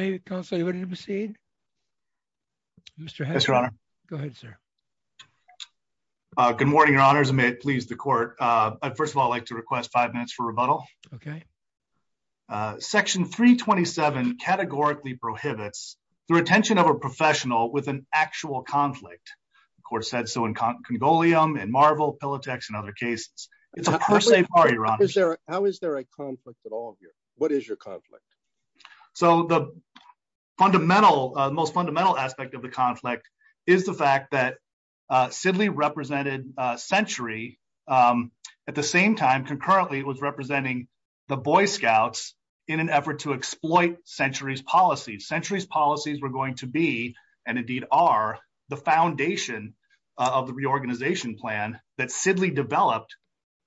Are we ready to proceed? Mr. Hedges. Yes, Your Honor. Go ahead, sir. Good morning, Your Honors. May it please the court, I'd first of all like to request five minutes for rebuttal. OK. Section 327 categorically prohibits the retention of a professional with an actual conflict. The court said so in Congolium, in Marvel, Pilatex, and other cases. It's a per se party, Your Honor. How is there a conflict at all here? What is your conflict? So the most fundamental aspect of the conflict is the fact that Sidley represented Century at the same time concurrently was representing the Boy Scouts in an effort to exploit Century's policies. Century's policies were going to be, and indeed are, the foundation of the reorganization plan that Sidley developed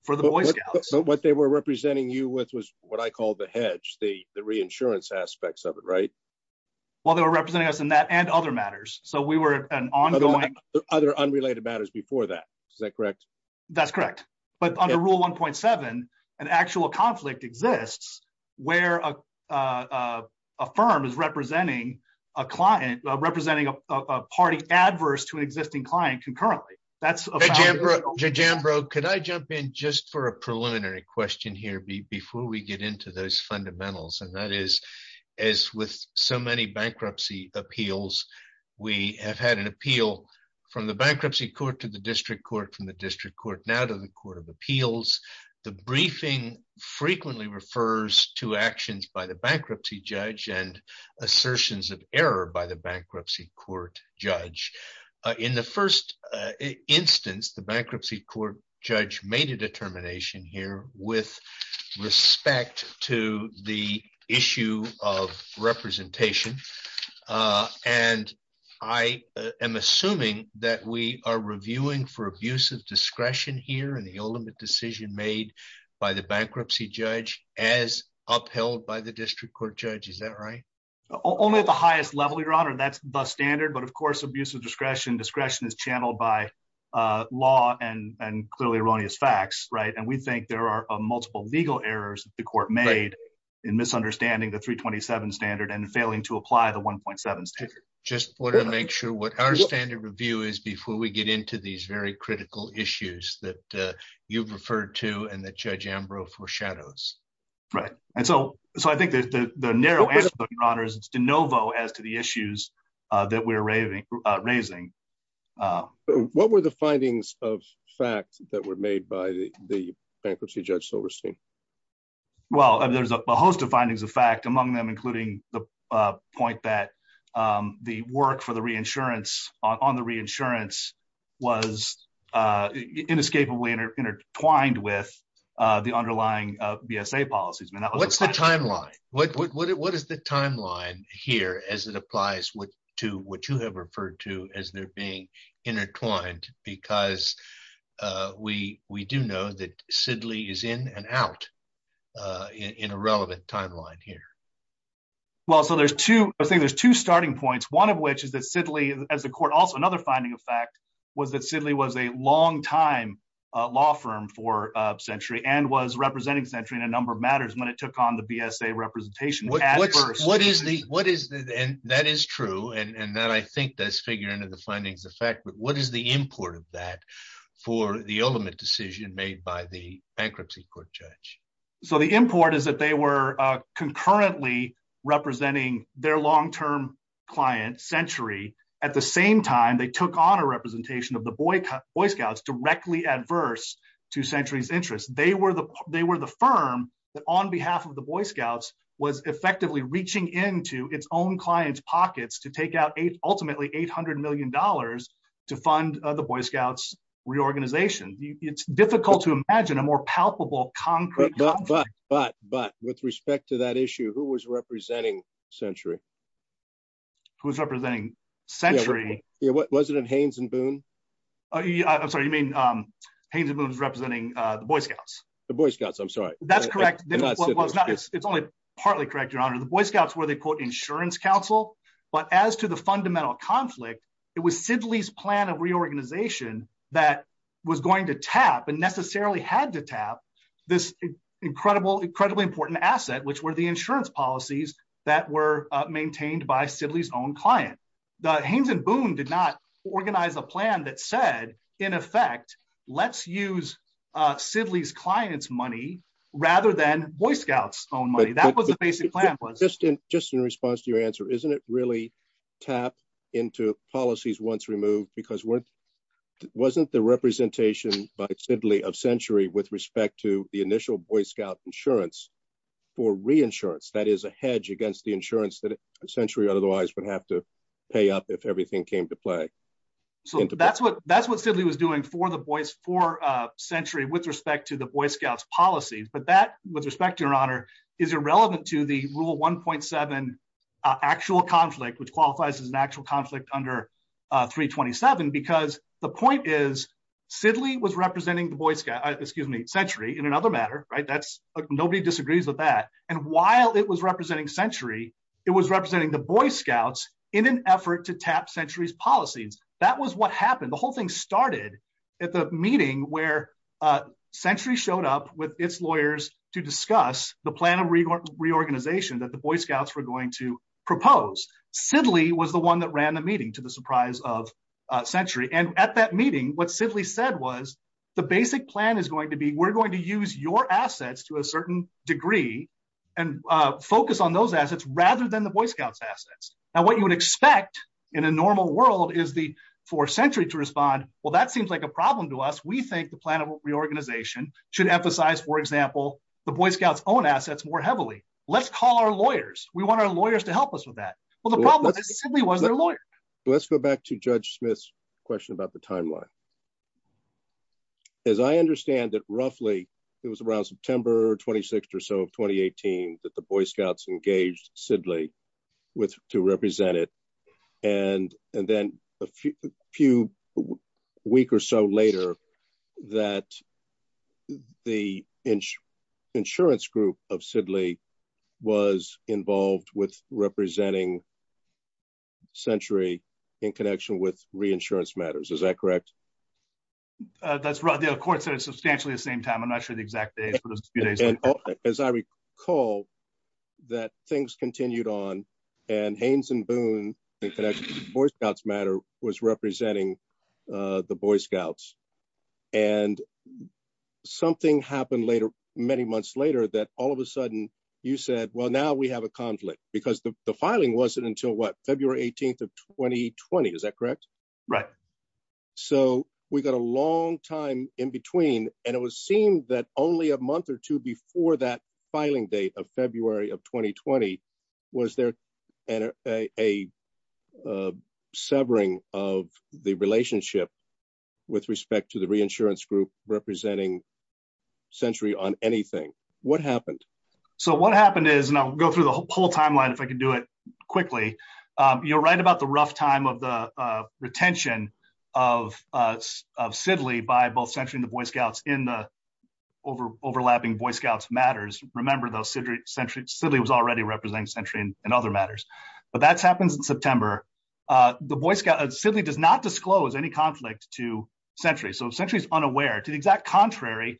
for the Boy Scouts. What they were representing you with was what I call the hedge, the reinsurance aspects of it, right? Well, they were representing us in that and other matters. So we were an ongoing. Other unrelated matters before that, is that correct? That's correct. But under Rule 1.7, an actual conflict exists where a firm is representing a client, representing a party adverse to an existing client concurrently. That's a fact. Jambro, could I jump in just for a preliminary question here before we get into those fundamentals? And that is, as with so many bankruptcy appeals, we have had an appeal from the bankruptcy court to the district court, from the district court now to the court of appeals. The briefing frequently refers to actions by the bankruptcy judge and assertions of error by the bankruptcy court judge. In the first instance, the bankruptcy court judge made a determination here with respect to the issue of representation. And I am assuming that we are reviewing for abuse of discretion here in the ultimate decision made by the bankruptcy judge as upheld by the district court judge, is that right? Only at the highest level, Your Honor. That's the standard. But of course, abuse of discretion, is channeled by law and clearly erroneous facts, right? And we think there are multiple legal errors the court made in misunderstanding the 327 standard and failing to apply the 1.7 standard. Just wanted to make sure what our standard review is before we get into these very critical issues that you've referred to and that Judge Jambro foreshadows. Right. And so I think that the narrow answer, Your Honor, is de novo as to the issues that we're raising. What were the findings of fact that were made by the bankruptcy judge Silverstein? Well, there's a host of findings of fact among them, including the point that the work on the reinsurance was inescapably intertwined with the underlying BSA policies. What's the timeline? What is the timeline here as it applies to what you have referred to as they're being intertwined? Because we do know that Sidley is in and out in a relevant timeline here. Well, so I think there's two starting points, one of which is that Sidley, as a court, also another finding of fact was that Sidley was a longtime law firm for Century and was representing Century in a number of matters when it took on the BSA representation. What is the, and that is true, and that I think does figure into the findings of fact, but what is the import of that for the ultimate decision made by the bankruptcy court judge? So the import is that they were concurrently representing their long-term client, Century. At the same time, they took on a representation of the Boy Scouts directly adverse to Century's interest. They were the firm that on behalf of the Boy Scouts was effectively reaching into its own clients' pockets to take out ultimately $800 million to fund the Boy Scouts reorganization. It's difficult to imagine a more palpable, concrete- But, but, but, but with respect to that issue, who was representing Century? Who was representing Century? Yeah, was it Haynes and Boone? Oh yeah, I'm sorry, you mean Haynes and Boone was representing the Boy Scouts. The Boy Scouts, I'm sorry. That's correct. It's only partly correct, your honor. The Boy Scouts were the quote insurance council, but as to the fundamental conflict, it was Sidley's plan of reorganization that was going to tap and necessarily had to tap this incredibly important asset, which were the insurance policies that were maintained by Sidley's own client. The Haynes and Boone did not organize a plan that said, in effect, let's use Sidley's client's money rather than Boy Scouts' own money. That was the basic plan. Just in response to your answer, isn't it really tap into policies once removed because it wasn't the representation by Sidley of Century with respect to the initial Boy Scout insurance for reinsurance, that is a hedge against the insurance that Century otherwise would have to pay up if everything came to play. So that's what Sidley was doing for Century with respect to the Boy Scouts policies, but that with respect to your honor is irrelevant to the rule 1.7 actual conflict, which qualifies as an actual conflict under 327, because the point is Sidley was representing the Boy Scout, excuse me, Century in another matter, right? Nobody disagrees with that. And while it was representing Century, it was representing the Boy Scouts in an effort to tap Century's policies. That was what happened. The whole thing started at the meeting where Century showed up with its lawyers to discuss the plan of reorganization that the Boy Scouts were going to propose. Sidley was the one that ran the meeting to the surprise of Century. And at that meeting, what Sidley said was, the basic plan is going to be, we're going to use your assets to a certain degree and focus on those assets rather than the Boy Scouts' assets. Now, what you would expect in a normal world is for Century to respond, well, that seems like a problem to us. We think the plan of reorganization should emphasize, for example, the Boy Scouts' own assets more heavily. Let's call our lawyers. We want our lawyers to help us with that. Well, the problem is Sidley was their lawyer. Let's go back to Judge Smith's question about the timeline. As I understand it, roughly, it was around September 26th or so of 2018 that the Boy Scouts engaged Sidley to represent it. And then a few week or so later that the insurance group of Sidley was involved with representing Century in connection with reinsurance matters. Is that correct? That's right. The court said it substantially at the same time. I'm not sure the exact date, but it was a few days later. As I recall that things continued on and Haynes and Boone in connection with Boy Scouts matter was representing the Boy Scouts. And something happened many months later that all of a sudden you said, well, now we have a conflict because the filing wasn't until what? February 18th of 2020, is that correct? Right. So we got a long time in between and it was seen that only a month or two before that filing date of February of 2020 was there a severing of the relationship with respect to the reinsurance group representing Century on anything. What happened? So what happened is, and I'll go through the whole timeline if I can do it quickly. You're right about the rough time of the retention of Sidley by both Century and the Boy Scouts in the overlapping Boy Scouts matters. Remember though, Sidley was already representing Century in other matters. But that's happens in September. Sidley does not disclose any conflict to Century. So Century is unaware. To the exact contrary,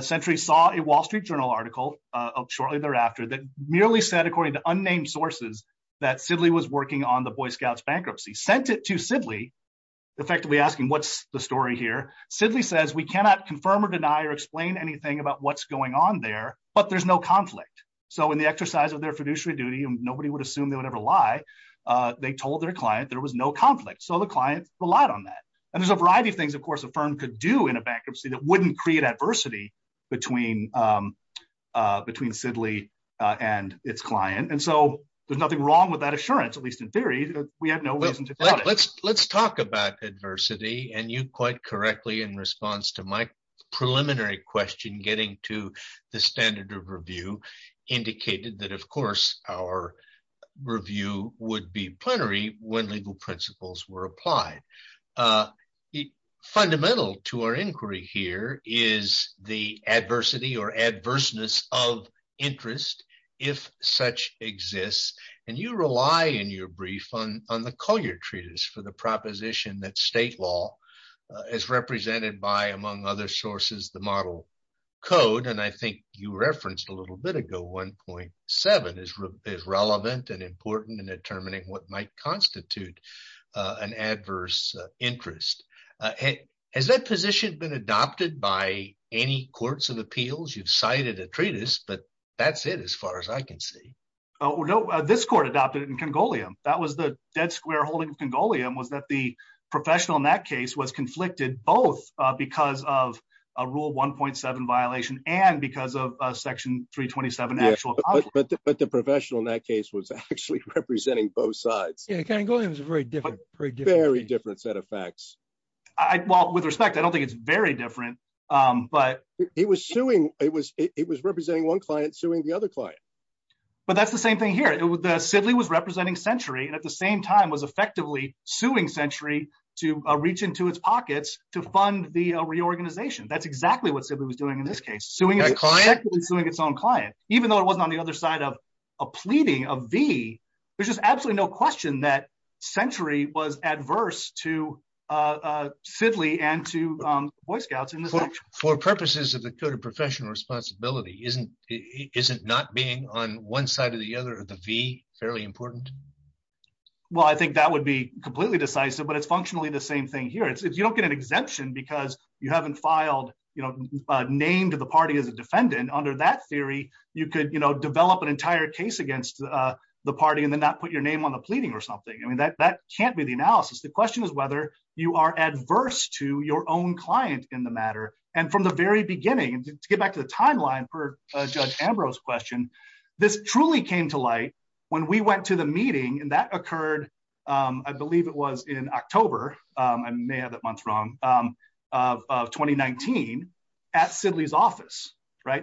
Century saw a Wall Street Journal article shortly thereafter that merely said according to unnamed sources that Sidley was working on the Boy Scouts bankruptcy. Sent it to Sidley, effectively asking what's the story here. Sidley says, we cannot confirm or deny or explain anything about what's going on there but there's no conflict. So in the exercise of their fiduciary duty and nobody would assume they would ever lie, they told their client there was no conflict. So the client relied on that. And there's a variety of things, of course, a firm could do in a bankruptcy that wouldn't create adversity between Sidley and its client. And so there's nothing wrong with that assurance, at least in theory. We have no reason to doubt it. Let's talk about adversity and you quite correctly in response to my preliminary question, getting to the standard of review, indicated that of course, our review would be plenary when legal principles were applied. Fundamental to our inquiry here is the adversity or adverseness of interest, if such exists. And you rely in your brief on the Collier Treatise for the proposition that state law is represented by among other sources, the model code. And I think you referenced a little bit ago, 1.7 is relevant and important in determining what might constitute an adverse interest. Has that position been adopted by any courts of appeals? You've cited a treatise, but that's it as far as I can see. No, this court adopted it in Congolium. That was the dead square holding of Congolium was that the professional in that case was conflicted both because of a rule 1.7 violation and because of a section 327 actual conflict. But the professional in that case was actually representing both sides. Yeah, Congolium is a very different set of facts. Well, with respect, I don't think it's very different, but- It was suing, it was representing one client suing the other client. But that's the same thing here. The Sidley was representing Century and at the same time was effectively suing Century to reach into its pockets to fund the reorganization. That's exactly what Sidley was doing in this case, suing its own client. Even though it wasn't on the other side of a pleading of V, there's just absolutely no question that Century was adverse to Sidley and to Boy Scouts in this case. For purposes of the code of professional responsibility, isn't not being on one side of the other of the V fairly important? Well, I think that would be completely decisive, but it's functionally the same thing here. If you don't get an exemption because you haven't named the party as a defendant, under that theory, you could develop an entire case against the party and then not put your name on the pleading or something. I mean, that can't be the analysis. The question is whether you are adverse to your own client in the matter. And from the very beginning, and to get back to the timeline per Judge Ambrose's question, this truly came to light when we went to the meeting and that occurred, I believe it was in October, I may have that month wrong, of 2019 at Sidley's office.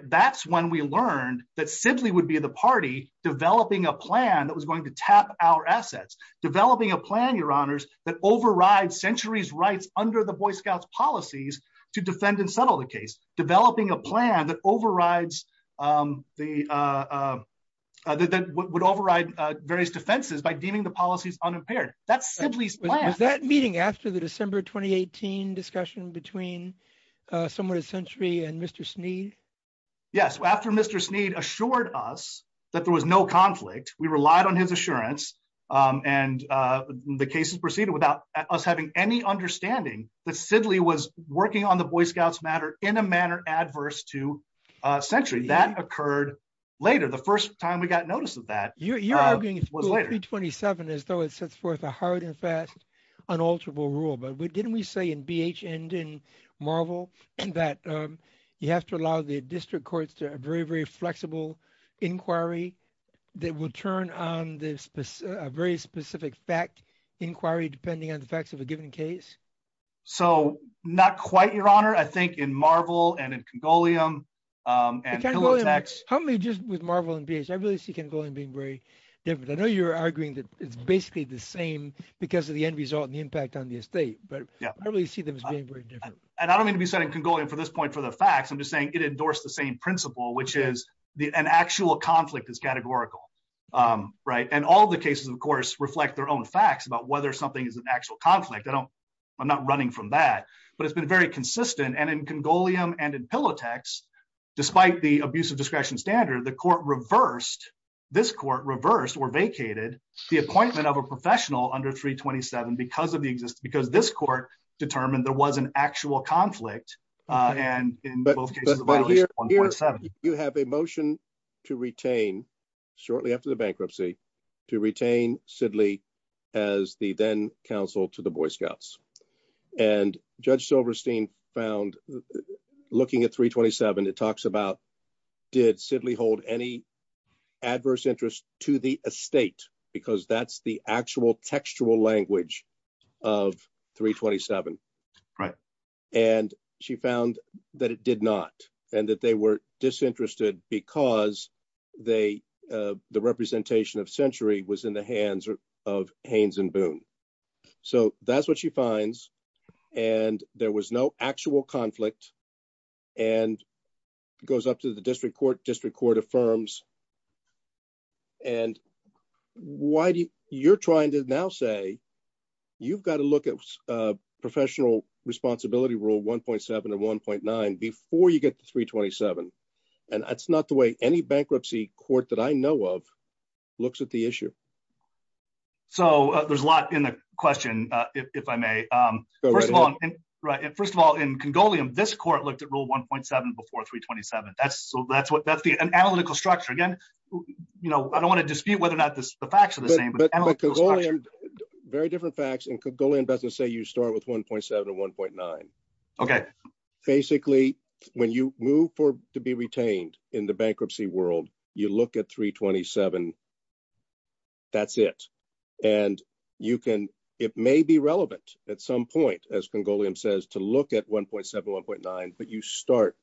That's when we learned that Sidley would be the party developing a plan that was going to tap our assets, developing a plan, your honors, that overrides Century's rights under the Boy Scouts policies to defend and settle the case, developing a plan that would override various defenses by deeming the policies unimpaired. That's Sidley's plan. Was that meeting after the December, 2018 discussion between someone at Century and Mr. Snead? Yes, after Mr. Snead assured us that there was no conflict, we relied on his assurance and the cases proceeded without us having any understanding that Sidley was working on the Boy Scouts matter in a manner adverse to Century. That occurred later. The first time we got notice of that was later. You're arguing it's Bill 327 as though it sets forth a hard and fast unalterable rule, but didn't we say in BH and in Marvel that you have to allow the district courts to have a very, very flexible inquiry that will turn on a very specific fact inquiry depending on the facts of a given case? So not quite, your honor. I think in Marvel and in Congolium and Pillow Texts. Help me just with Marvel and BH. I really see Congolium being very different. I know you're arguing that it's basically the same because of the end result and the impact on the estate, but I really see them as being very different. And I don't mean to be setting Congolium for this point for the facts. I'm just saying it endorsed the same principle, which is an actual conflict is categorical, right? And all the cases, of course, reflect their own facts about whether something is an actual conflict. I'm not running from that, but it's been very consistent. And in Congolium and in Pillow Texts, despite the abuse of discretion standard, the court reversed, this court reversed or vacated the appointment of a professional under 327 because this court determined there was an actual conflict. And in both cases, the violation was 1.7. You have a motion to retain shortly after the bankruptcy to retain Sidley as the then counsel to the Boy Scouts. And Judge Silverstein found, looking at 327, it talks about, did Sidley hold any adverse interest to the estate? Because that's the actual textual language of 327. And she found that it did not, and that they were disinterested because the representation of Century was in the hands of Haynes and Boone. So that's what she finds. And there was no actual conflict and it goes up to the district court, district court affirms. And why do you, you're trying to now say, you've got to look at a professional responsibility rule 1.7 and 1.9 before you get to 327. And that's not the way any bankruptcy court that I know of looks at the issue. So there's a lot in the question, if I may. First of all, in Congolium, this court looked at rule 1.7 before 327. That's an analytical structure. Again, I don't want to dispute whether or not the facts are the same, but the analytical structure. But Congolium, very different facts. In Congolium, let's just say you start with 1.7 or 1.9. Okay. Basically, when you move to be retained in the bankruptcy world, you look at 327. That's it. And you can, it may be relevant at some point, as Congolium says, to look at 1.7, 1.9, but you start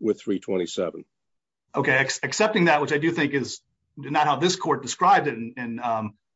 with 327. Okay. Accepting that, which I do think is not how this court described it in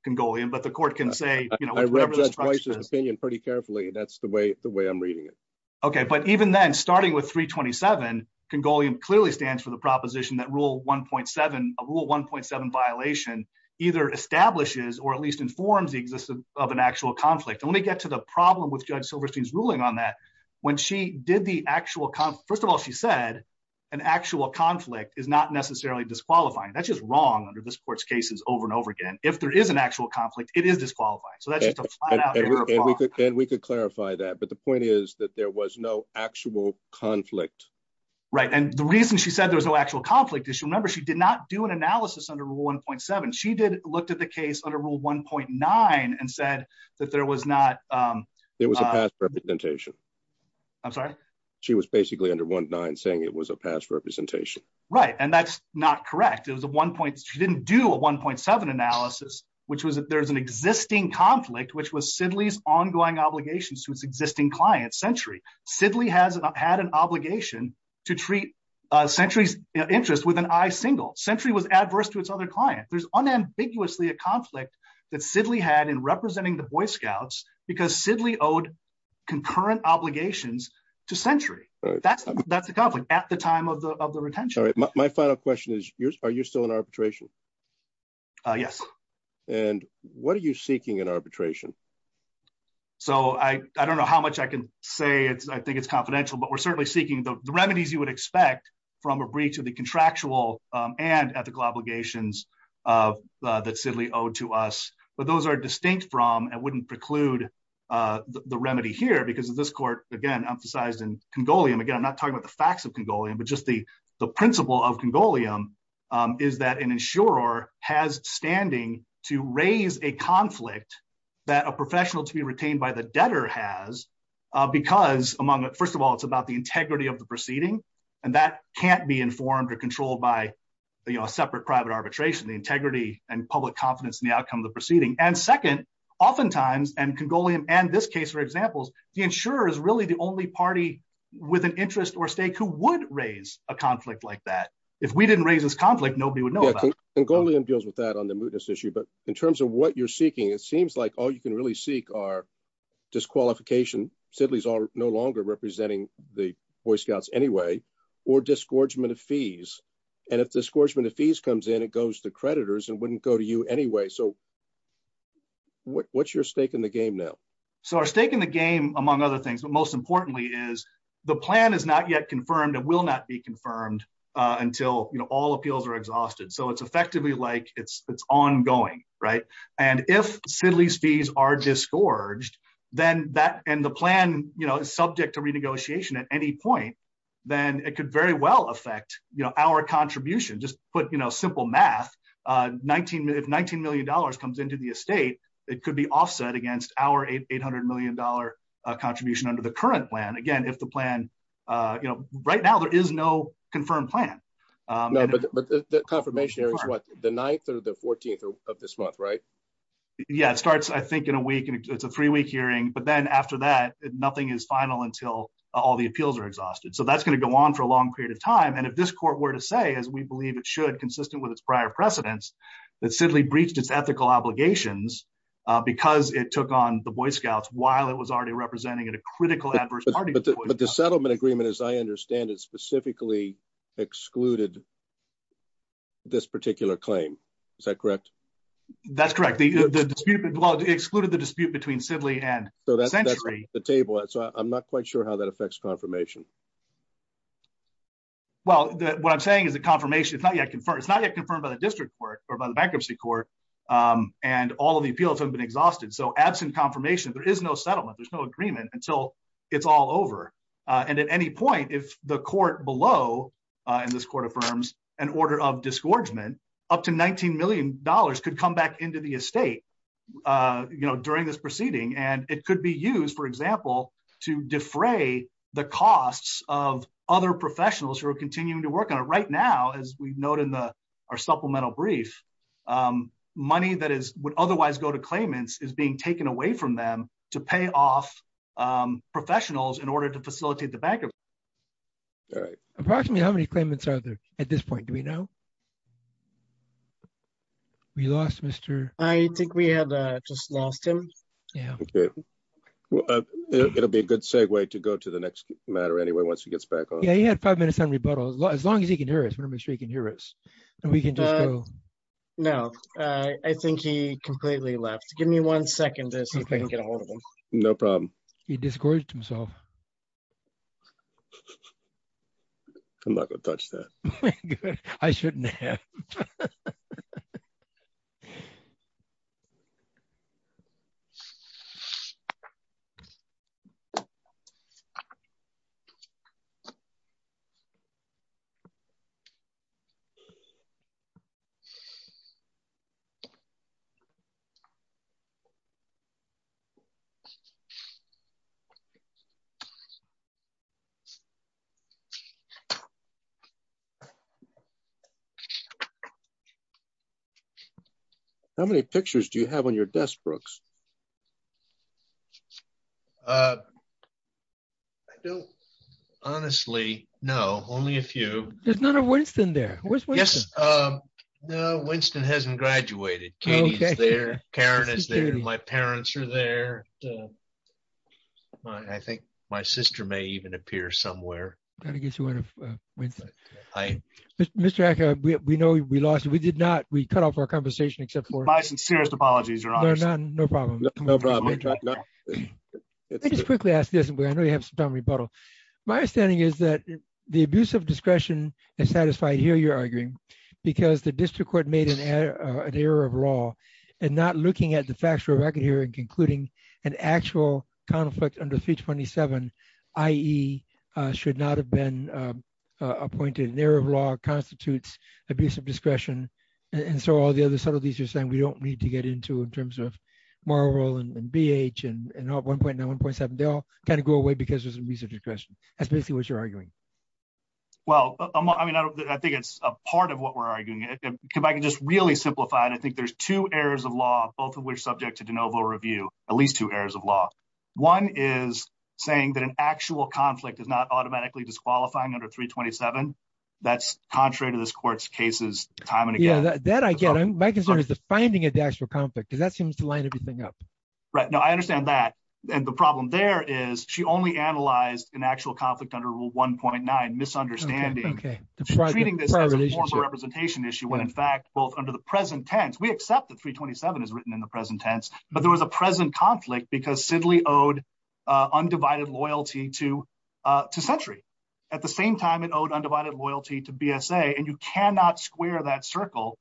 Congolium, but the court can say, you know- I read Judge Weiss' opinion pretty carefully. That's the way I'm reading it. Okay. But even then, starting with 327, Congolium clearly stands for the proposition that rule 1.7, a rule 1.7 violation, either establishes or at least informs the existence of an actual conflict. And let me get to the problem with Judge Silverstein's ruling on that. When she did the actual con- First of all, she said an actual conflict is not necessarily disqualifying. That's just wrong under this court's cases over and over again. If there is an actual conflict, it is disqualifying. So that's just a flat out error of law. And we could clarify that, but the point is that there was no actual conflict. Right. And the reason she said there was no actual conflict is she remember she did not do an analysis under rule 1.7. She did look at the case under rule 1.9 and said that there was not- It was a past representation. I'm sorry? She was basically under 1.9 saying it was a past representation. Right. And that's not correct. It was a 1. She didn't do a 1.7 analysis, which was that there's an existing conflict, which was Sidley's ongoing obligations to its existing client, Century. Sidley has had an obligation to treat Century's interest with an I single. Century was adverse to its other client. There's unambiguously a conflict that Sidley had in representing the Boy Scouts because Sidley owed concurrent obligations to Century. That's the conflict at the time of the retention. My final question is, are you still in arbitration? Yes. And what are you seeking in arbitration? So I don't know how much I can say. I think it's confidential, but we're certainly seeking the remedies you would expect from a breach of the contractual and ethical obligations that Sidley owed to us. But those are distinct from and wouldn't preclude the remedy here because of this court, again, emphasized in Congolium. Again, I'm not talking about the facts of Congolium, but just the principle of Congolium is that an insurer has standing to raise a conflict that a professional to be retained by the debtor has because among, first of all, it's about the integrity of the proceeding. And that can't be informed or controlled by a separate private arbitration, the integrity and public confidence in the outcome of the proceeding. And second, oftentimes, and Congolium, and this case for examples, the insurer is really the only party with an interest or stake who would raise a conflict like that. If we didn't raise this conflict, nobody would know about it. Congolium deals with that on the mootness issue, but in terms of what you're seeking, it seems like all you can really seek are disqualification. Sidley's no longer representing the Boy Scouts anyway, or disgorgement of fees. And if disgorgement of fees comes in, it goes to creditors and wouldn't go to you anyway. So what's your stake in the game now? So our stake in the game, among other things, but most importantly is the plan is not yet confirmed and will not be confirmed until all appeals are exhausted. So it's effectively like it's ongoing, right? And if Sidley's fees are disgorged, then that, and the plan is subject to renegotiation at any point, then it could very well affect our contribution, just put simple math. If $19 million comes into the estate, it could be offset against our $800 million contribution under the current plan. Again, if the plan, right now there is no confirmed plan. No, but the confirmation here is what? The 9th or the 14th of this month, right? Yeah, it starts, I think in a week, it's a three week hearing, but then after that, nothing is final until all the appeals are exhausted. So that's gonna go on for a long period of time. And if this court were to say, as we believe it should, consistent with its prior precedents, that Sidley breached its ethical obligations because it took on the Boy Scouts while it was already representing at a critical adverse party- But the settlement agreement, as I understand it, specifically excluded this particular claim. Is that correct? That's correct. Well, it excluded the dispute between Sidley and Century. So that's off the table. So I'm not quite sure how that affects confirmation. Well, what I'm saying is the confirmation, it's not yet confirmed. It's not yet confirmed by the district court or by the bankruptcy court and all of the appeals haven't been exhausted. So absent confirmation, there is no settlement. There's no agreement until it's all over. And at any point, if the court below, and this court affirms an order of disgorgement, up to $19 million could come back into the estate during this proceeding. And it could be used, for example, to defray the costs of other professionals who are continuing to work on it. Right now, as we've noted in our supplemental brief, money that would otherwise go to claimants is being taken away from them to pay off professionals in order to facilitate the bankruptcy. Approximately how many claimants are there at this point? Do we know? We lost Mr. I think we had just lost him. Yeah. It'll be a good segue to go to the next matter anyway, once he gets back on. Yeah, he had five minutes on rebuttal. As long as he can hear us, we're gonna make sure he can hear us and we can just go. No, I think he completely left. Give me one second to see if I can get a hold of him. No problem. He discouraged himself. I'm not gonna touch that. Good, I shouldn't have. How many pictures do you have on your desk, Brooks? I don't honestly know, only a few. There's not a Winston there. Where's Winston? No, Winston hasn't graduated. Katie's there, Karen is there, my parents are there. I think my sister may even appear somewhere. Gotta get you one of Winston. Hi. Mr. Acker, we know we lost you. We did not, we cut off our conversation except for- My sincerest apologies, Your Honors. No problem. No problem. Let me just quickly ask this, and I know you have some time to rebuttal. My understanding is that the abuse of discretion is satisfied here, you're arguing, because the district court made an error of law and not looking at the factual record here and concluding an actual conflict under 327, i.e. should not have been appointed an error of law, constitutes abuse of discretion. And so all the other subtleties you're saying we don't need to get into in terms of moral role and BH and 1.9, 1.7, they all kind of go away because there's an abuse of discretion. That's basically what you're arguing. Well, I mean, I think it's a part of what we're arguing. If I can just really simplify it, I think there's two errors of law, both of which subject to de novo review, at least two errors of law. One is saying that an actual conflict is not automatically disqualifying under 327. That's contrary to this court's cases time and again. Yeah, that I get. My concern is the finding of the actual conflict because that seems to line everything up. Right, no, I understand that. And the problem there is she only analyzed an actual conflict under rule 1.9, misunderstanding. She's treating this as a moral representation issue when in fact, both under the present tense, we accept that 327 is written in the present tense, but there was a present conflict because Sidley owed undivided loyalty to Century. At the same time, it owed undivided loyalty to BSA, and you cannot square that circle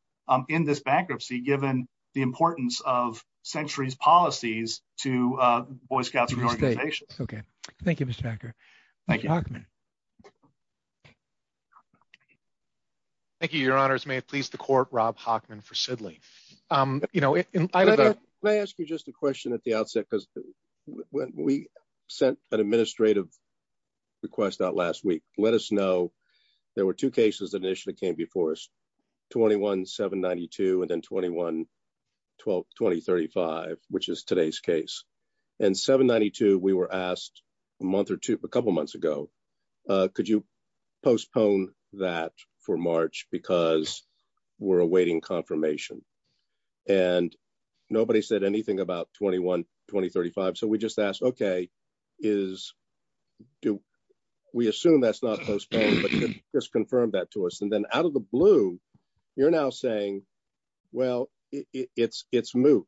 in this bankruptcy given the importance of Century's policies to Boy Scouts and organizations. Okay, thank you, Mr. Hacker. Thank you. Thank you, your honors. May it please the court, Rob Hockman for Sidley. May I ask you just a question at the outset when we sent an administrative request out last week, let us know there were two cases that initially came before us, 21-792 and then 21-2035, which is today's case. And 792, we were asked a month or two, a couple of months ago, could you postpone that for March because we're awaiting confirmation? And nobody said anything about 21-2035. So we just asked, okay, we assume that's not postponed, but just confirm that to us. And then out of the blue, you're now saying, well, it's moot,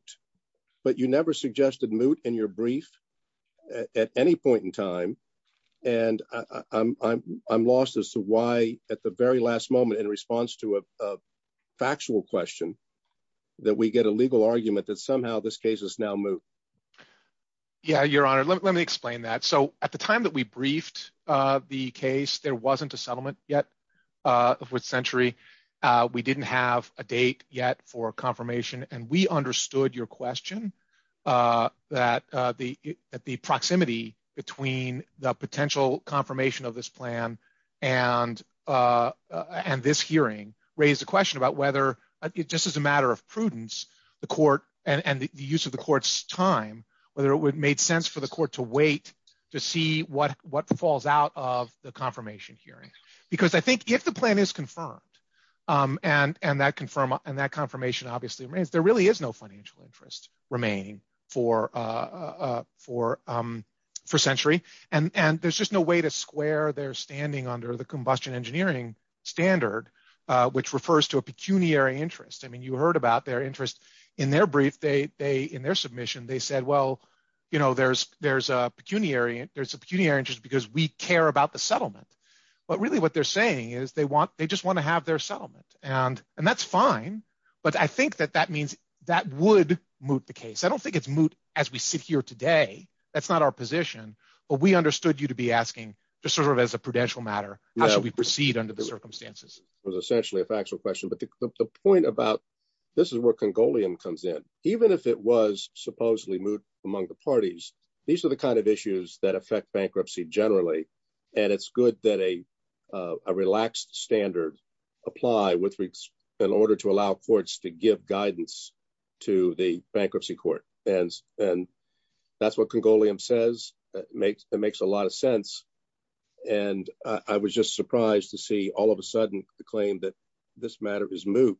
but you never suggested moot in your brief at any point in time. And I'm lost as to why at the very last moment in response to a factual question that we get a legal argument that somehow this case is now moot. Yeah, your honor, let me explain that. So at the time that we briefed the case, there wasn't a settlement yet with Century. We didn't have a date yet for confirmation. And we understood your question that the proximity between the potential confirmation of this plan and this hearing raised the question about whether it just as a matter of prudence, the court and the use of the court's time, whether it would make sense for the court to wait to see what falls out of the confirmation hearing. Because I think if the plan is confirmed and that confirmation obviously remains, there really is no financial interest remaining for Century. And there's just no way to square their standing under the combustion engineering standard, which refers to a pecuniary interest. I mean, you heard about their interest. In their brief, in their submission, they said, well, there's a pecuniary interest because we care about the settlement. But really what they're saying is they just wanna have their settlement. And that's fine. But I think that that means that would moot the case. I don't think it's moot as we sit here today. That's not our position. But we understood you to be asking just sort of as a prudential matter, how should we proceed under the circumstances? It was essentially a factual question. But the point about, this is where Congolian comes in. Even if it was supposedly moot among the parties, these are the kinds of issues that affect bankruptcy generally. And it's good that a relaxed standard apply with in order to allow courts to give guidance to the bankruptcy court. And that's what Congolian says that makes a lot of sense. And I was just surprised to see all of a sudden the claim that this matter is moot.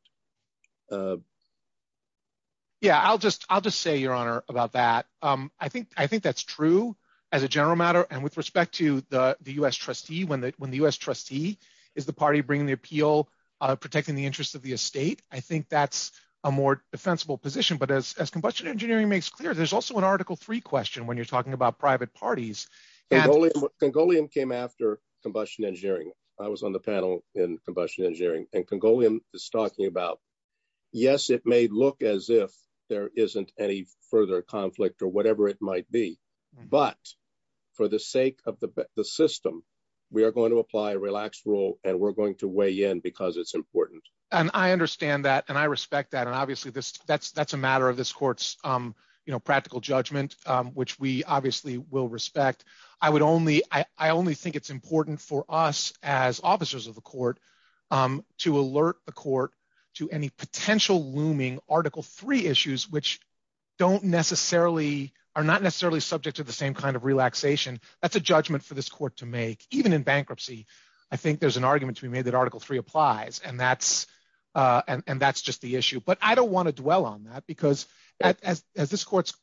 Yeah, I'll just say, Your Honor, about that. I think that's true as a general matter. And with respect to the U.S. trustee, when the U.S. trustee is the party bringing the appeal, protecting the interest of the estate, I think that's a more defensible position. But as Combustion Engineering makes clear, there's also an Article III question when you're talking about private parties. Congolian came after Combustion Engineering. I was on the panel in Combustion Engineering and Congolian is talking about, yes, it may look as if there isn't any further conflict or whatever it might be. But for the sake of the system, we are going to apply a relaxed rule and we're going to weigh in because it's important. And I understand that and I respect that. And obviously, that's a matter of this court's practical judgment, which we obviously will respect. I only think it's important for us as officers of the court to alert the court to any potential looming Article III issues, which are not necessarily subject to the same kind of relaxation. That's a judgment for this court to make, even in bankruptcy. I think there's an argument to be made that Article III applies and that's just the issue. But I don't want to dwell on that because as this court's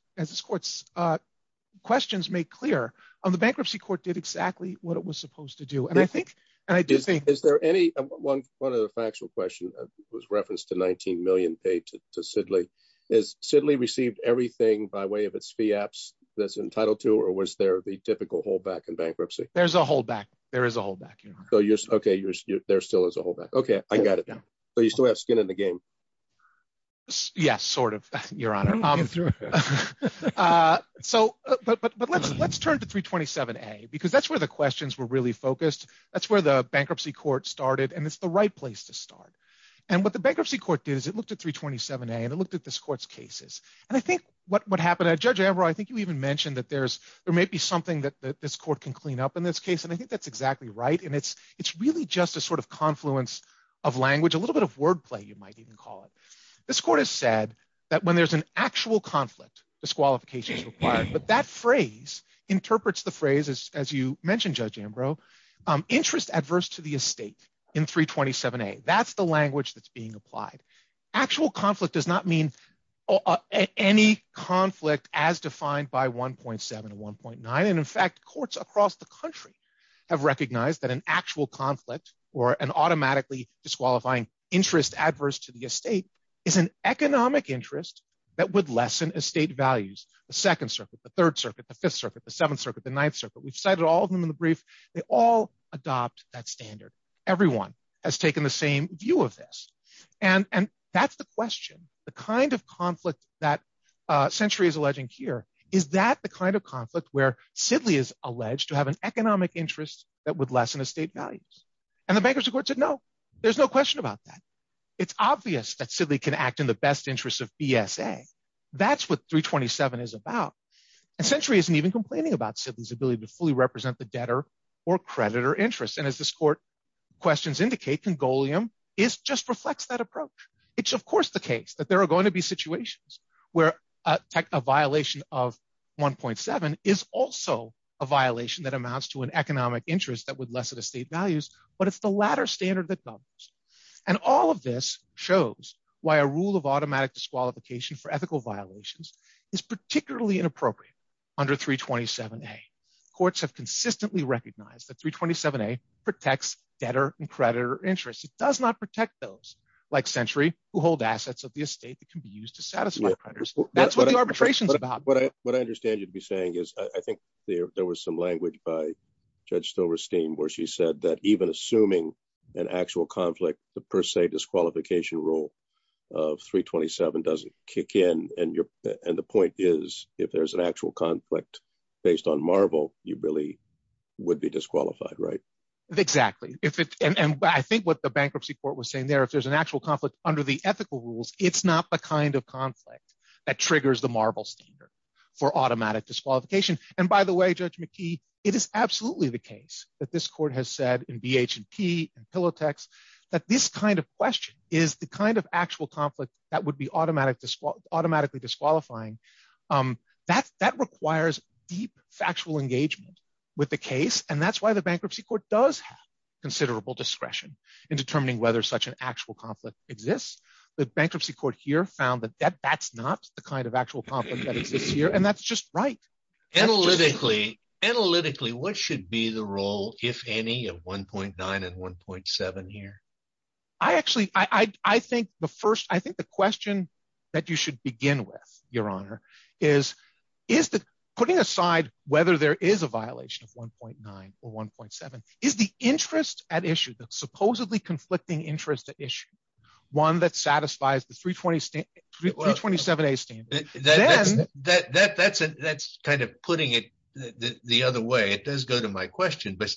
questions make clear, on the bankruptcy court did exactly what it was supposed to do. And I think, and I do think- Is there any, one of the factual question was referenced to 19 million paid to Sidley. Is Sidley received everything by way of its fiapps that's entitled to, or was there the typical holdback in bankruptcy? There's a holdback. There is a holdback. Okay, there still is a holdback. Okay, I got it. So you still have skin in the game. Yes, sort of, Your Honor. I'm through. So, but let's turn to 327A because that's where the questions were really focused. That's where the bankruptcy court started and it's the right place to start. And what the bankruptcy court did is it looked at 327A and it looked at this court's cases. And I think what happened, Judge Ambrose, I think you even mentioned that there may be something that this court can clean up in this case. And I think that's exactly right. And it's really just a sort of confluence of language, a little bit of wordplay, you might even call it. This court has said that when there's an actual conflict, disqualification is required. But that phrase interprets the phrase as you mentioned, Judge Ambrose, interest adverse to the estate in 327A. That's the language that's being applied. Actual conflict does not mean any conflict as defined by 1.7 and 1.9. And in fact, courts across the country have recognized that an actual conflict or an automatically disqualifying interest adverse to the estate is an economic interest that would lessen estate values. The Second Circuit, the Third Circuit, the Fifth Circuit, the Seventh Circuit, the Ninth Circuit, we've cited all of them in the brief, they all adopt that standard. Everyone has taken the same view of this. And that's the question, the kind of conflict that Century is alleging here, is that the kind of conflict where Sidley is alleged to have an economic interest that would lessen estate values. And the bankruptcy court said, no, there's no question about that. It's obvious that Sidley can act in the best interest of BSA. That's what 327 is about. And Century isn't even complaining about Sidley's ability to fully represent the debtor or creditor interest. And as this court questions indicate, Congolium just reflects that approach. It's of course the case that there are going to be situations where a violation of 1.7 is also a violation that amounts to an economic interest that would lessen estate values, but it's the latter standard that governs. And all of this shows why a rule of automatic disqualification for ethical violations is particularly inappropriate under 327A. Courts have consistently recognized that 327A protects debtor and creditor interests. It does not protect those like Century who hold assets of the estate that can be used to satisfy creditors. That's what the arbitration is about. What I understand you'd be saying is, I think there was some language by Judge Silverstein where she said that even assuming an actual conflict, the per se disqualification rule of 327 doesn't kick in. And the point is, if there's an actual conflict based on Marble, you really would be disqualified, right? Exactly. And I think what the bankruptcy court was saying there, if there's an actual conflict under the ethical rules, it's not the kind of conflict that triggers the Marble standard for automatic disqualification. And by the way, Judge McKee, it is absolutely the case that this court has said in BH and P and Pillow Text, that this kind of question is the kind of actual conflict that would be automatically disqualifying. That requires deep factual engagement with the case. And that's why the bankruptcy court does have considerable discretion in determining whether such an actual conflict exists. The bankruptcy court here found that that's not the kind of actual conflict that exists here. And that's just right. Analytically, what should be the role, if any, of 1.9 and 1.7 here? I actually, I think the first, I think the question that you should begin with, Your Honor, is that putting aside whether there is a violation of 1.9 or 1.7, is the interest at issue, the supposedly conflicting interest at issue, one that satisfies the 327A standard? Then- That's kind of putting it the other way. It does go to my question, but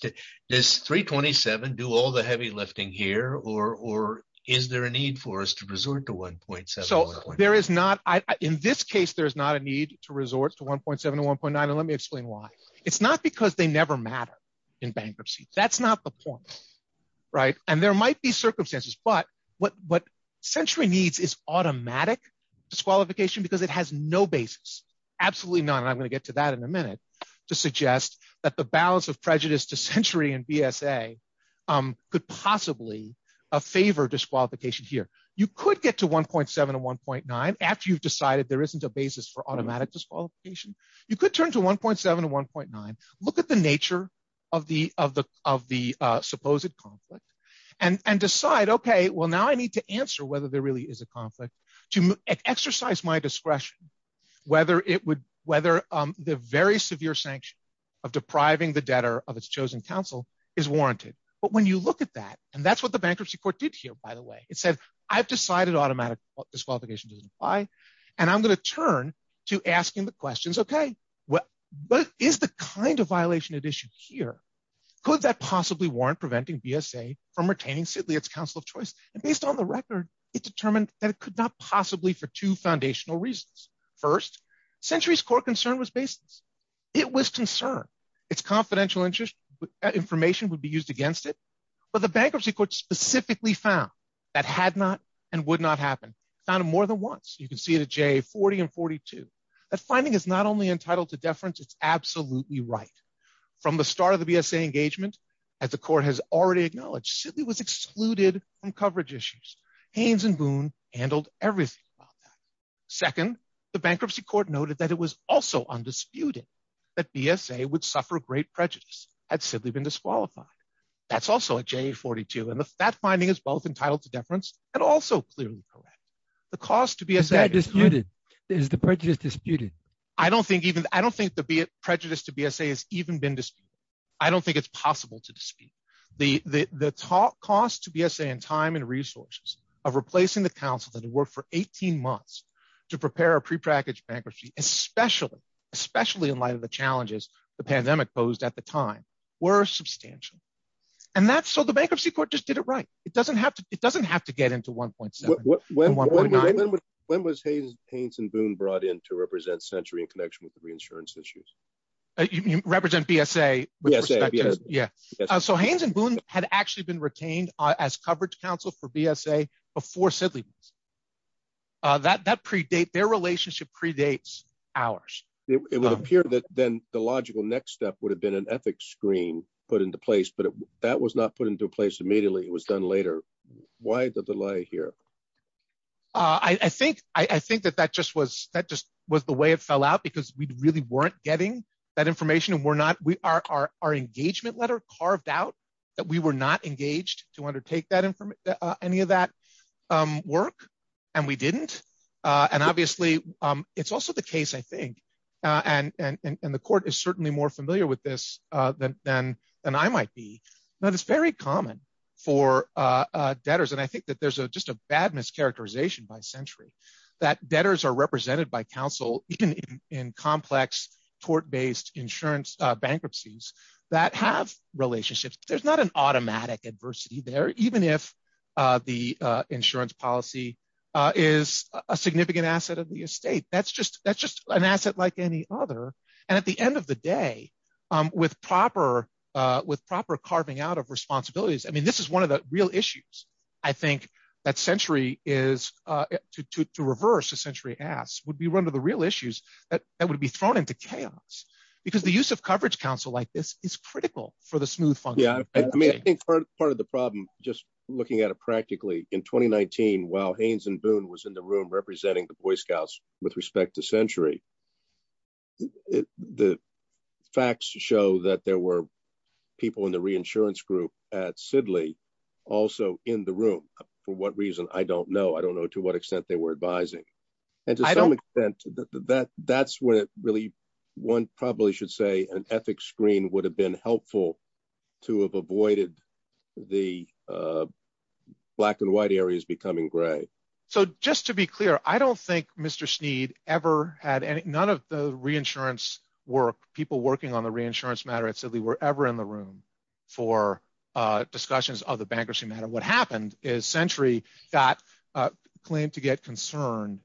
does 327 do all the heavy lifting here, or is there a need for us to resort to 1.7 or 1.9? So there is not, in this case, there's not a need to resort to 1.7 or 1.9. And let me explain why. It's not because they never matter in bankruptcy. That's not the point, right? And there might be circumstances, but what Century needs is automatic disqualification because it has no basis, absolutely none. And I'm gonna get to that in a minute to suggest that the balance of prejudice to Century and BSA could possibly favor disqualification here. You could get to 1.7 and 1.9 after you've decided there isn't a basis for automatic disqualification. You could turn to 1.7 and 1.9, look at the nature of the supposed conflict and decide, okay, well, now I need to answer whether there really is a conflict to exercise my discretion, whether the very severe sanction of depriving the debtor of its chosen counsel is warranted. But when you look at that, and that's what the bankruptcy court did here, by the way, it said, I've decided automatic disqualification doesn't apply and I'm gonna turn to asking the questions, okay, what is the kind of violation at issue here? Could that possibly warrant preventing BSA from retaining Sidley, its counsel of choice? And based on the record, it determined that it could not possibly for two foundational reasons. First, Century's core concern was basis. It was concern. Its confidential information would be used against it, but the bankruptcy court specifically found that had not and would not happen. Found it more than once. You can see it at JA 40 and 42. That finding is not only entitled to deference, it's absolutely right. From the start of the BSA engagement, as the court has already acknowledged, Sidley was excluded from coverage issues. Haynes and Boone handled everything about that. Second, the bankruptcy court noted that it was also undisputed that BSA would suffer great prejudice had Sidley been disqualified. That's also at JA 42. And that finding is both entitled to deference and also clearly correct. The cost to BSA- Is that disputed? Is the prejudice disputed? I don't think even, the cost to BSA has even been disputed. I don't think it's possible to dispute. The cost to BSA in time and resources of replacing the counsel that had worked for 18 months to prepare a prepackaged bankruptcy, especially in light of the challenges the pandemic posed at the time, were substantial. And that's, so the bankruptcy court just did it right. It doesn't have to get into 1.7 and 1.9. When was Haynes and Boone brought in to represent Century in connection with the reinsurance issues? You represent BSA with respect to- BSA, BSA. Yeah. So Haynes and Boone had actually been retained as coverage counsel for BSA before Sidley was. That predate, their relationship predates ours. It would appear that then the logical next step would have been an ethics screen put into place, but that was not put into place immediately. It was done later. Why the delay here? I think that that just was, that just was the way it fell out because we really weren't getting that information. And we're not, our engagement letter carved out that we were not engaged to undertake that, any of that work. And we didn't. And obviously it's also the case, I think, and the court is certainly more familiar with this than I might be, that it's very common for debtors. And I think that there's just a bad mischaracterization by Century, that debtors are represented by counsel in complex court-based insurance bankruptcies that have relationships. There's not an automatic adversity there, even if the insurance policy is a significant asset of the estate. That's just an asset like any other. And at the end of the day, with proper carving out of responsibilities, I mean, this is one of the real issues. I think that Century is, to reverse Century asks, would we run to the real issues that would be thrown into chaos? Because the use of coverage counsel like this is critical for the smooth function. Yeah, I mean, I think part of the problem, just looking at it practically, in 2019, while Haynes and Boone was in the room representing the Boy Scouts with respect to Century, the facts show that there were people in the reinsurance group at Sidley also in the room. For what reason, I don't know. I don't know to what extent they were advising. And to some extent, that's what really, one probably should say an ethics screen would have been helpful to have avoided the black and white areas becoming gray. So just to be clear, I don't think Mr. Snead ever had any, none of the reinsurance work, people working on the reinsurance matter at Sidley were ever in the room for discussions of the bankruptcy matter. What happened is Century got claimed to get concerned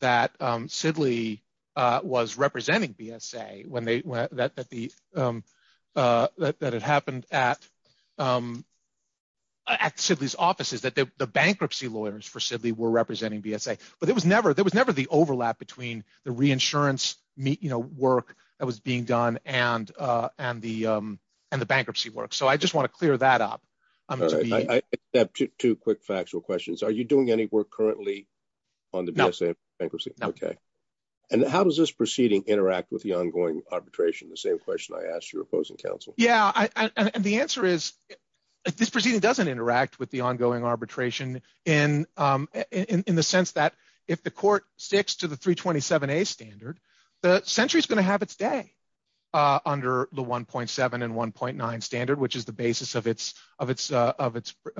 that Sidley was representing BSA when they went, that it happened at Sidley's offices, that the bankruptcy lawyers for Sidley were representing BSA. But there was never the overlap between the reinsurance work that was being done and the bankruptcy work. So I just wanna clear that up. I just have two quick factual questions. Are you doing any work currently on the BSA bankruptcy? No. Okay. And how does this proceeding interact with the ongoing arbitration? The same question I asked your opposing counsel. Yeah, and the answer is, this proceeding doesn't interact with the ongoing arbitration in the sense that if the court sticks to the 327A standard, the Century is gonna have its day under the 1.7 and 1.9 standard, which is the basis of its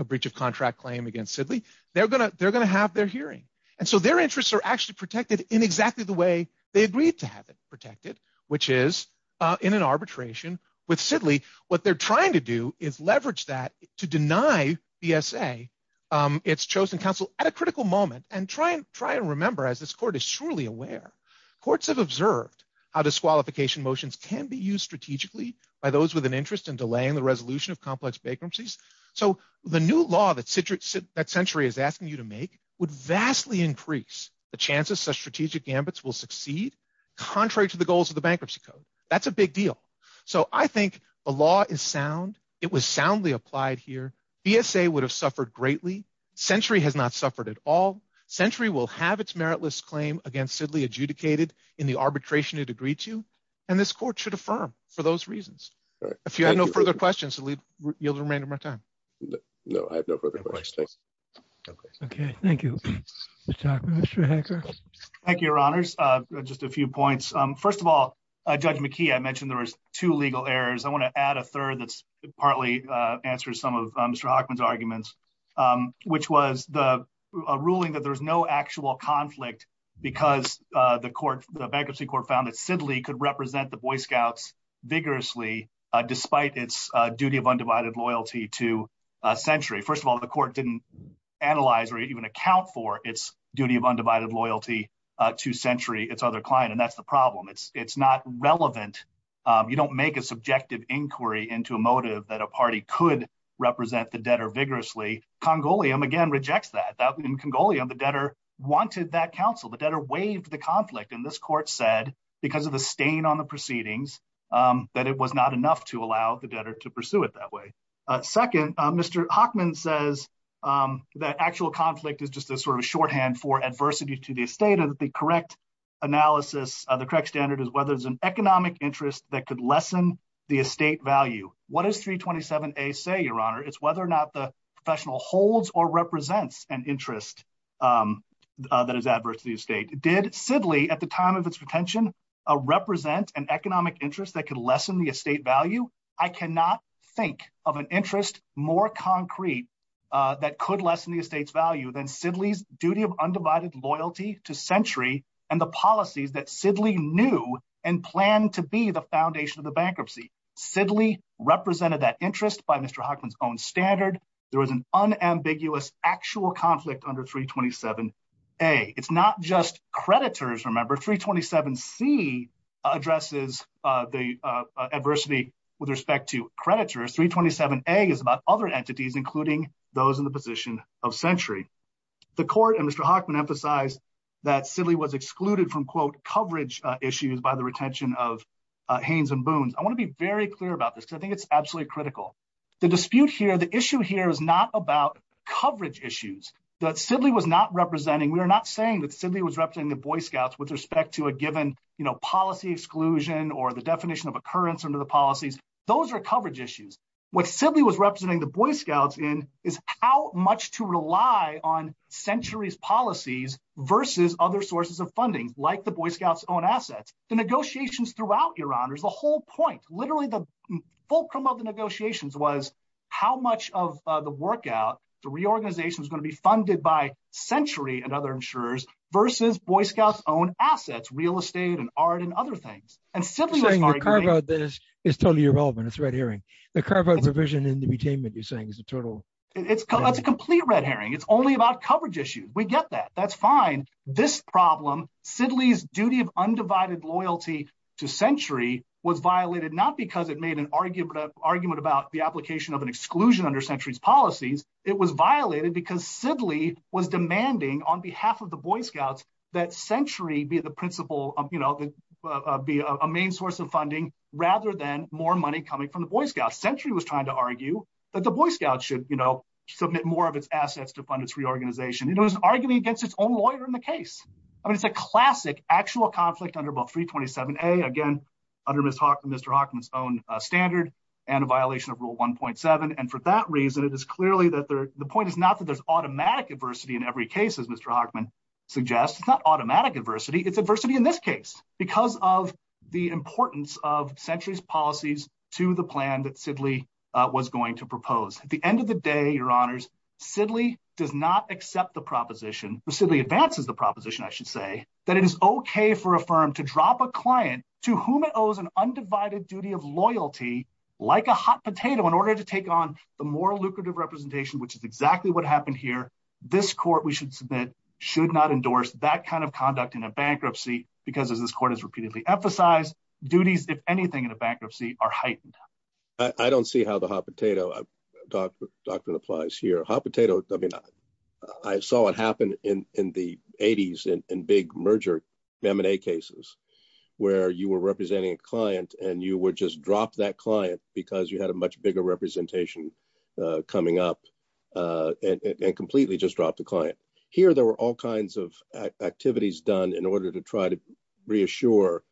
breach of contract claim against Sidley, they're gonna have their hearing. And so their interests are actually protected in exactly the way they agreed to have it protected, which is in an arbitration with Sidley. What they're trying to do is leverage that to deny BSA its chosen counsel at a critical moment and try and remember, as this court is surely aware, courts have observed how disqualification motions can be used strategically by those with an interest in delaying the resolution of complex bankruptcies. So the new law that Century is asking you to make would vastly increase the chances such strategic gambits will succeed contrary to the goals of the bankruptcy code. That's a big deal. So I think the law is sound. It was soundly applied here. BSA would have suffered greatly. Century has not suffered at all. Century will have its meritless claim against Sidley adjudicated in the arbitration it agreed to. And this court should affirm for those reasons. If you have no further questions, you'll remain to my time. No, I have no further questions. Okay, thank you. Mr. Hockman, Mr. Hacker. Thank you, your honors. Just a few points. First of all, Judge McKee, I mentioned there was two legal errors. I wanna add a third that's partly answers some of Mr. Hockman's arguments, which was a ruling that there was no actual conflict because the bankruptcy court found that Sidley could represent the Boy Scouts vigorously despite its duty of undivided loyalty to Century. First of all, the court didn't analyze or even account for its duty of undivided loyalty to Century, its other client. And that's the problem. It's not relevant. You don't make a subjective inquiry into a motive that a party could represent the debtor vigorously. Congolium, again, rejects that. In Congolium, the debtor wanted that counsel. The debtor waived the conflict. And this court said, because of the stain on the proceedings, that it was not enough to allow the debtor to pursue it that way. Second, Mr. Hockman says that actual conflict is just a sort of shorthand for adversity to the estate and that the correct analysis, the correct standard is whether there's an economic interest that could lessen the estate value. What does 327A say, your honor? It's whether or not the professional holds or represents an interest that is adverse to the estate. Did Sidley, at the time of its retention, represent an economic interest that could lessen the estate value? I cannot think of an interest more concrete that could lessen the estate's value than Sidley's duty of undivided loyalty to Century and the policies that Sidley knew and planned to be the foundation of the bankruptcy. Sidley represented that interest by Mr. Hockman's own standard. There was an unambiguous actual conflict under 327A. It's not just creditors, remember. 327C addresses the adversity with respect to creditors. 327A is about other entities, including those in the position of Century. The court and Mr. Hockman emphasized that Sidley was excluded from, quote, coverage issues by the retention of Haynes and Boones. I wanna be very clear about this because I think it's absolutely critical. The dispute here, the issue here is not about coverage issues. That Sidley was not representing, we are not saying that Sidley was representing the Boy Scouts with respect to a given policy exclusion or the definition of occurrence under the policies. Those are coverage issues. What Sidley was representing the Boy Scouts in is how much to rely on Century's policies versus other sources of funding, like the Boy Scouts' own assets. The negotiations throughout, Your Honors, the whole point, literally the fulcrum of the negotiations was how much of the workout, the reorganization was gonna be funded by Century and other insurers versus Boy Scouts' own assets, real estate and art and other things. And Sidley was arguing- You're saying your carve out this is totally irrelevant. It's red herring. The carve out provision in the retainment you're saying is a total- It's a complete red herring. It's only about coverage issues. We get that. That's fine. This problem, Sidley's duty of undivided loyalty to Century was violated, not because it made an argument about the application of an exclusion under Century's policies. It was violated because Sidley was demanding on behalf of the Boy Scouts that Century be the principal, be a main source of funding rather than more money coming from the Boy Scouts. Century was trying to argue that the Boy Scouts should submit more of its assets to fund its reorganization. It was an argument against its own lawyer in the case. I mean, it's a classic actual conflict under about 327A, again, under Mr. Hawkman's own standard and a violation of rule 1.7. And for that reason, it is clearly that there, the point is not that there's automatic adversity in every case, as Mr. Hawkman suggests. It's not automatic adversity. It's adversity in this case because of the importance of Century's policies to the plan that Sidley was going to propose. At the end of the day, your honors, Sidley does not accept the proposition, or Sidley advances the proposition, I should say, that it is okay for a firm to drop a client to whom it owes an undivided duty of loyalty like a hot potato in order to take on the more lucrative representation, which is exactly what happened here. This court, we should submit, should not endorse that kind of conduct in a bankruptcy because as this court has repeatedly emphasized, duties, if anything, in a bankruptcy are heightened. I don't see how the hot potato doctrine applies here. Hot potato, I mean, I saw it happen in the 80s in big merger M&A cases where you were representing a client and you would just drop that client because you had a much bigger representation coming up and completely just drop the client. Here, there were all kinds of activities done in order to try to reassure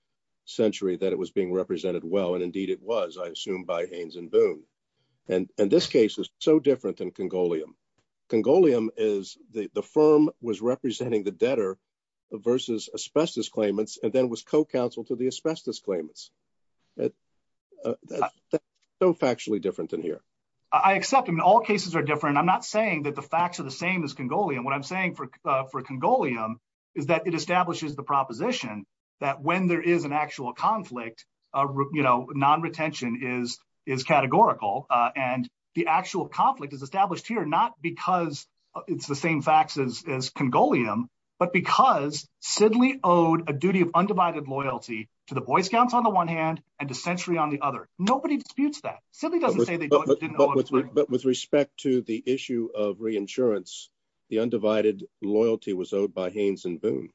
Century that it was being represented well, and indeed it was, I assume by Haynes and Boone. And this case is so different than Congolium. Congolium is the firm was representing the debtor versus asbestos claimants and then was co-counsel to the asbestos claimants. So factually different than here. I accept, I mean, all cases are different. I'm not saying that the facts are the same as Congolium. What I'm saying for Congolium is that it establishes the proposition that when there is an actual conflict, non-retention is categorical and the actual conflict is established here, not because it's the same facts as Congolium, but because Sidley owed a duty of undivided loyalty to the Boy Scouts on the one hand and to Century on the other. Nobody disputes that. Sidley doesn't say they didn't owe it. But with respect to the issue of reinsurance, the undivided loyalty was owed by Haynes and Boone.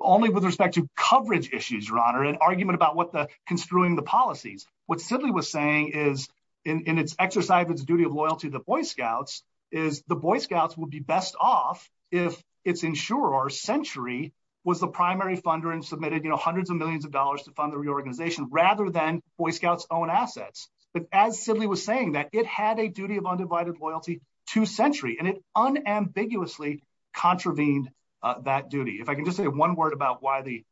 Only with respect to coverage issues, Your Honor, an argument about what the construing the policies. What Sidley was saying is, in its exercise of its duty of loyalty to the Boy Scouts, is the Boy Scouts would be best off if its insurer, Century, was the primary funder and submitted hundreds of millions of dollars to fund the reorganization rather than Boy Scouts' own assets. But as Sidley was saying that, it had a duty of undivided loyalty to Century and it unambiguously contravened that duty. If I can just say one word about why the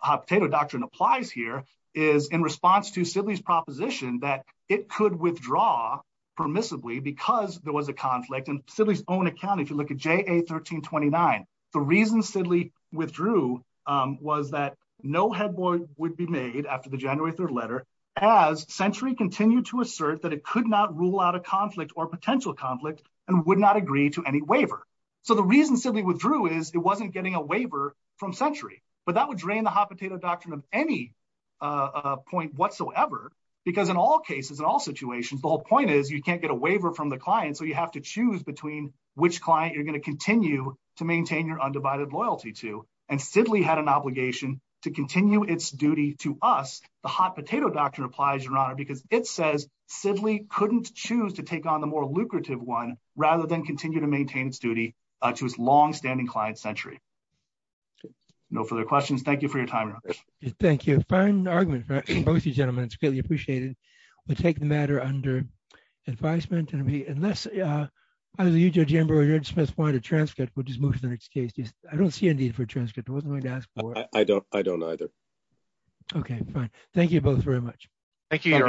hot potato doctrine applies here is in response to Sidley's proposition that it could withdraw permissibly because there was a conflict. In Sidley's own account, if you look at JA 1329, the reason Sidley withdrew was that no headboard would be made after the January 3rd letter as Century continued to assert that it could not rule out a conflict or potential conflict and would not agree to any waiver. So the reason Sidley withdrew is it wasn't getting a waiver from Century. But that would drain the hot potato doctrine of any point whatsoever because in all cases, in all situations, the whole point is you can't get a waiver from the client and so you have to choose between which client you're gonna continue to maintain your undivided loyalty to. And Sidley had an obligation to continue its duty to us. The hot potato doctrine applies, Your Honor, because it says Sidley couldn't choose to take on the more lucrative one rather than continue to maintain its duty to its longstanding client, Century. No further questions. Thank you for your time. Thank you. Fine argument from both of you gentlemen. It's greatly appreciated. We'll take the matter under advisement unless either you, Judge Amber or Judge Smith want a transcript, we'll just move to the next case. I don't see a need for a transcript. I wasn't going to ask for it. I don't either. Okay, fine. Thank you both very much. Thank you, Your Honor.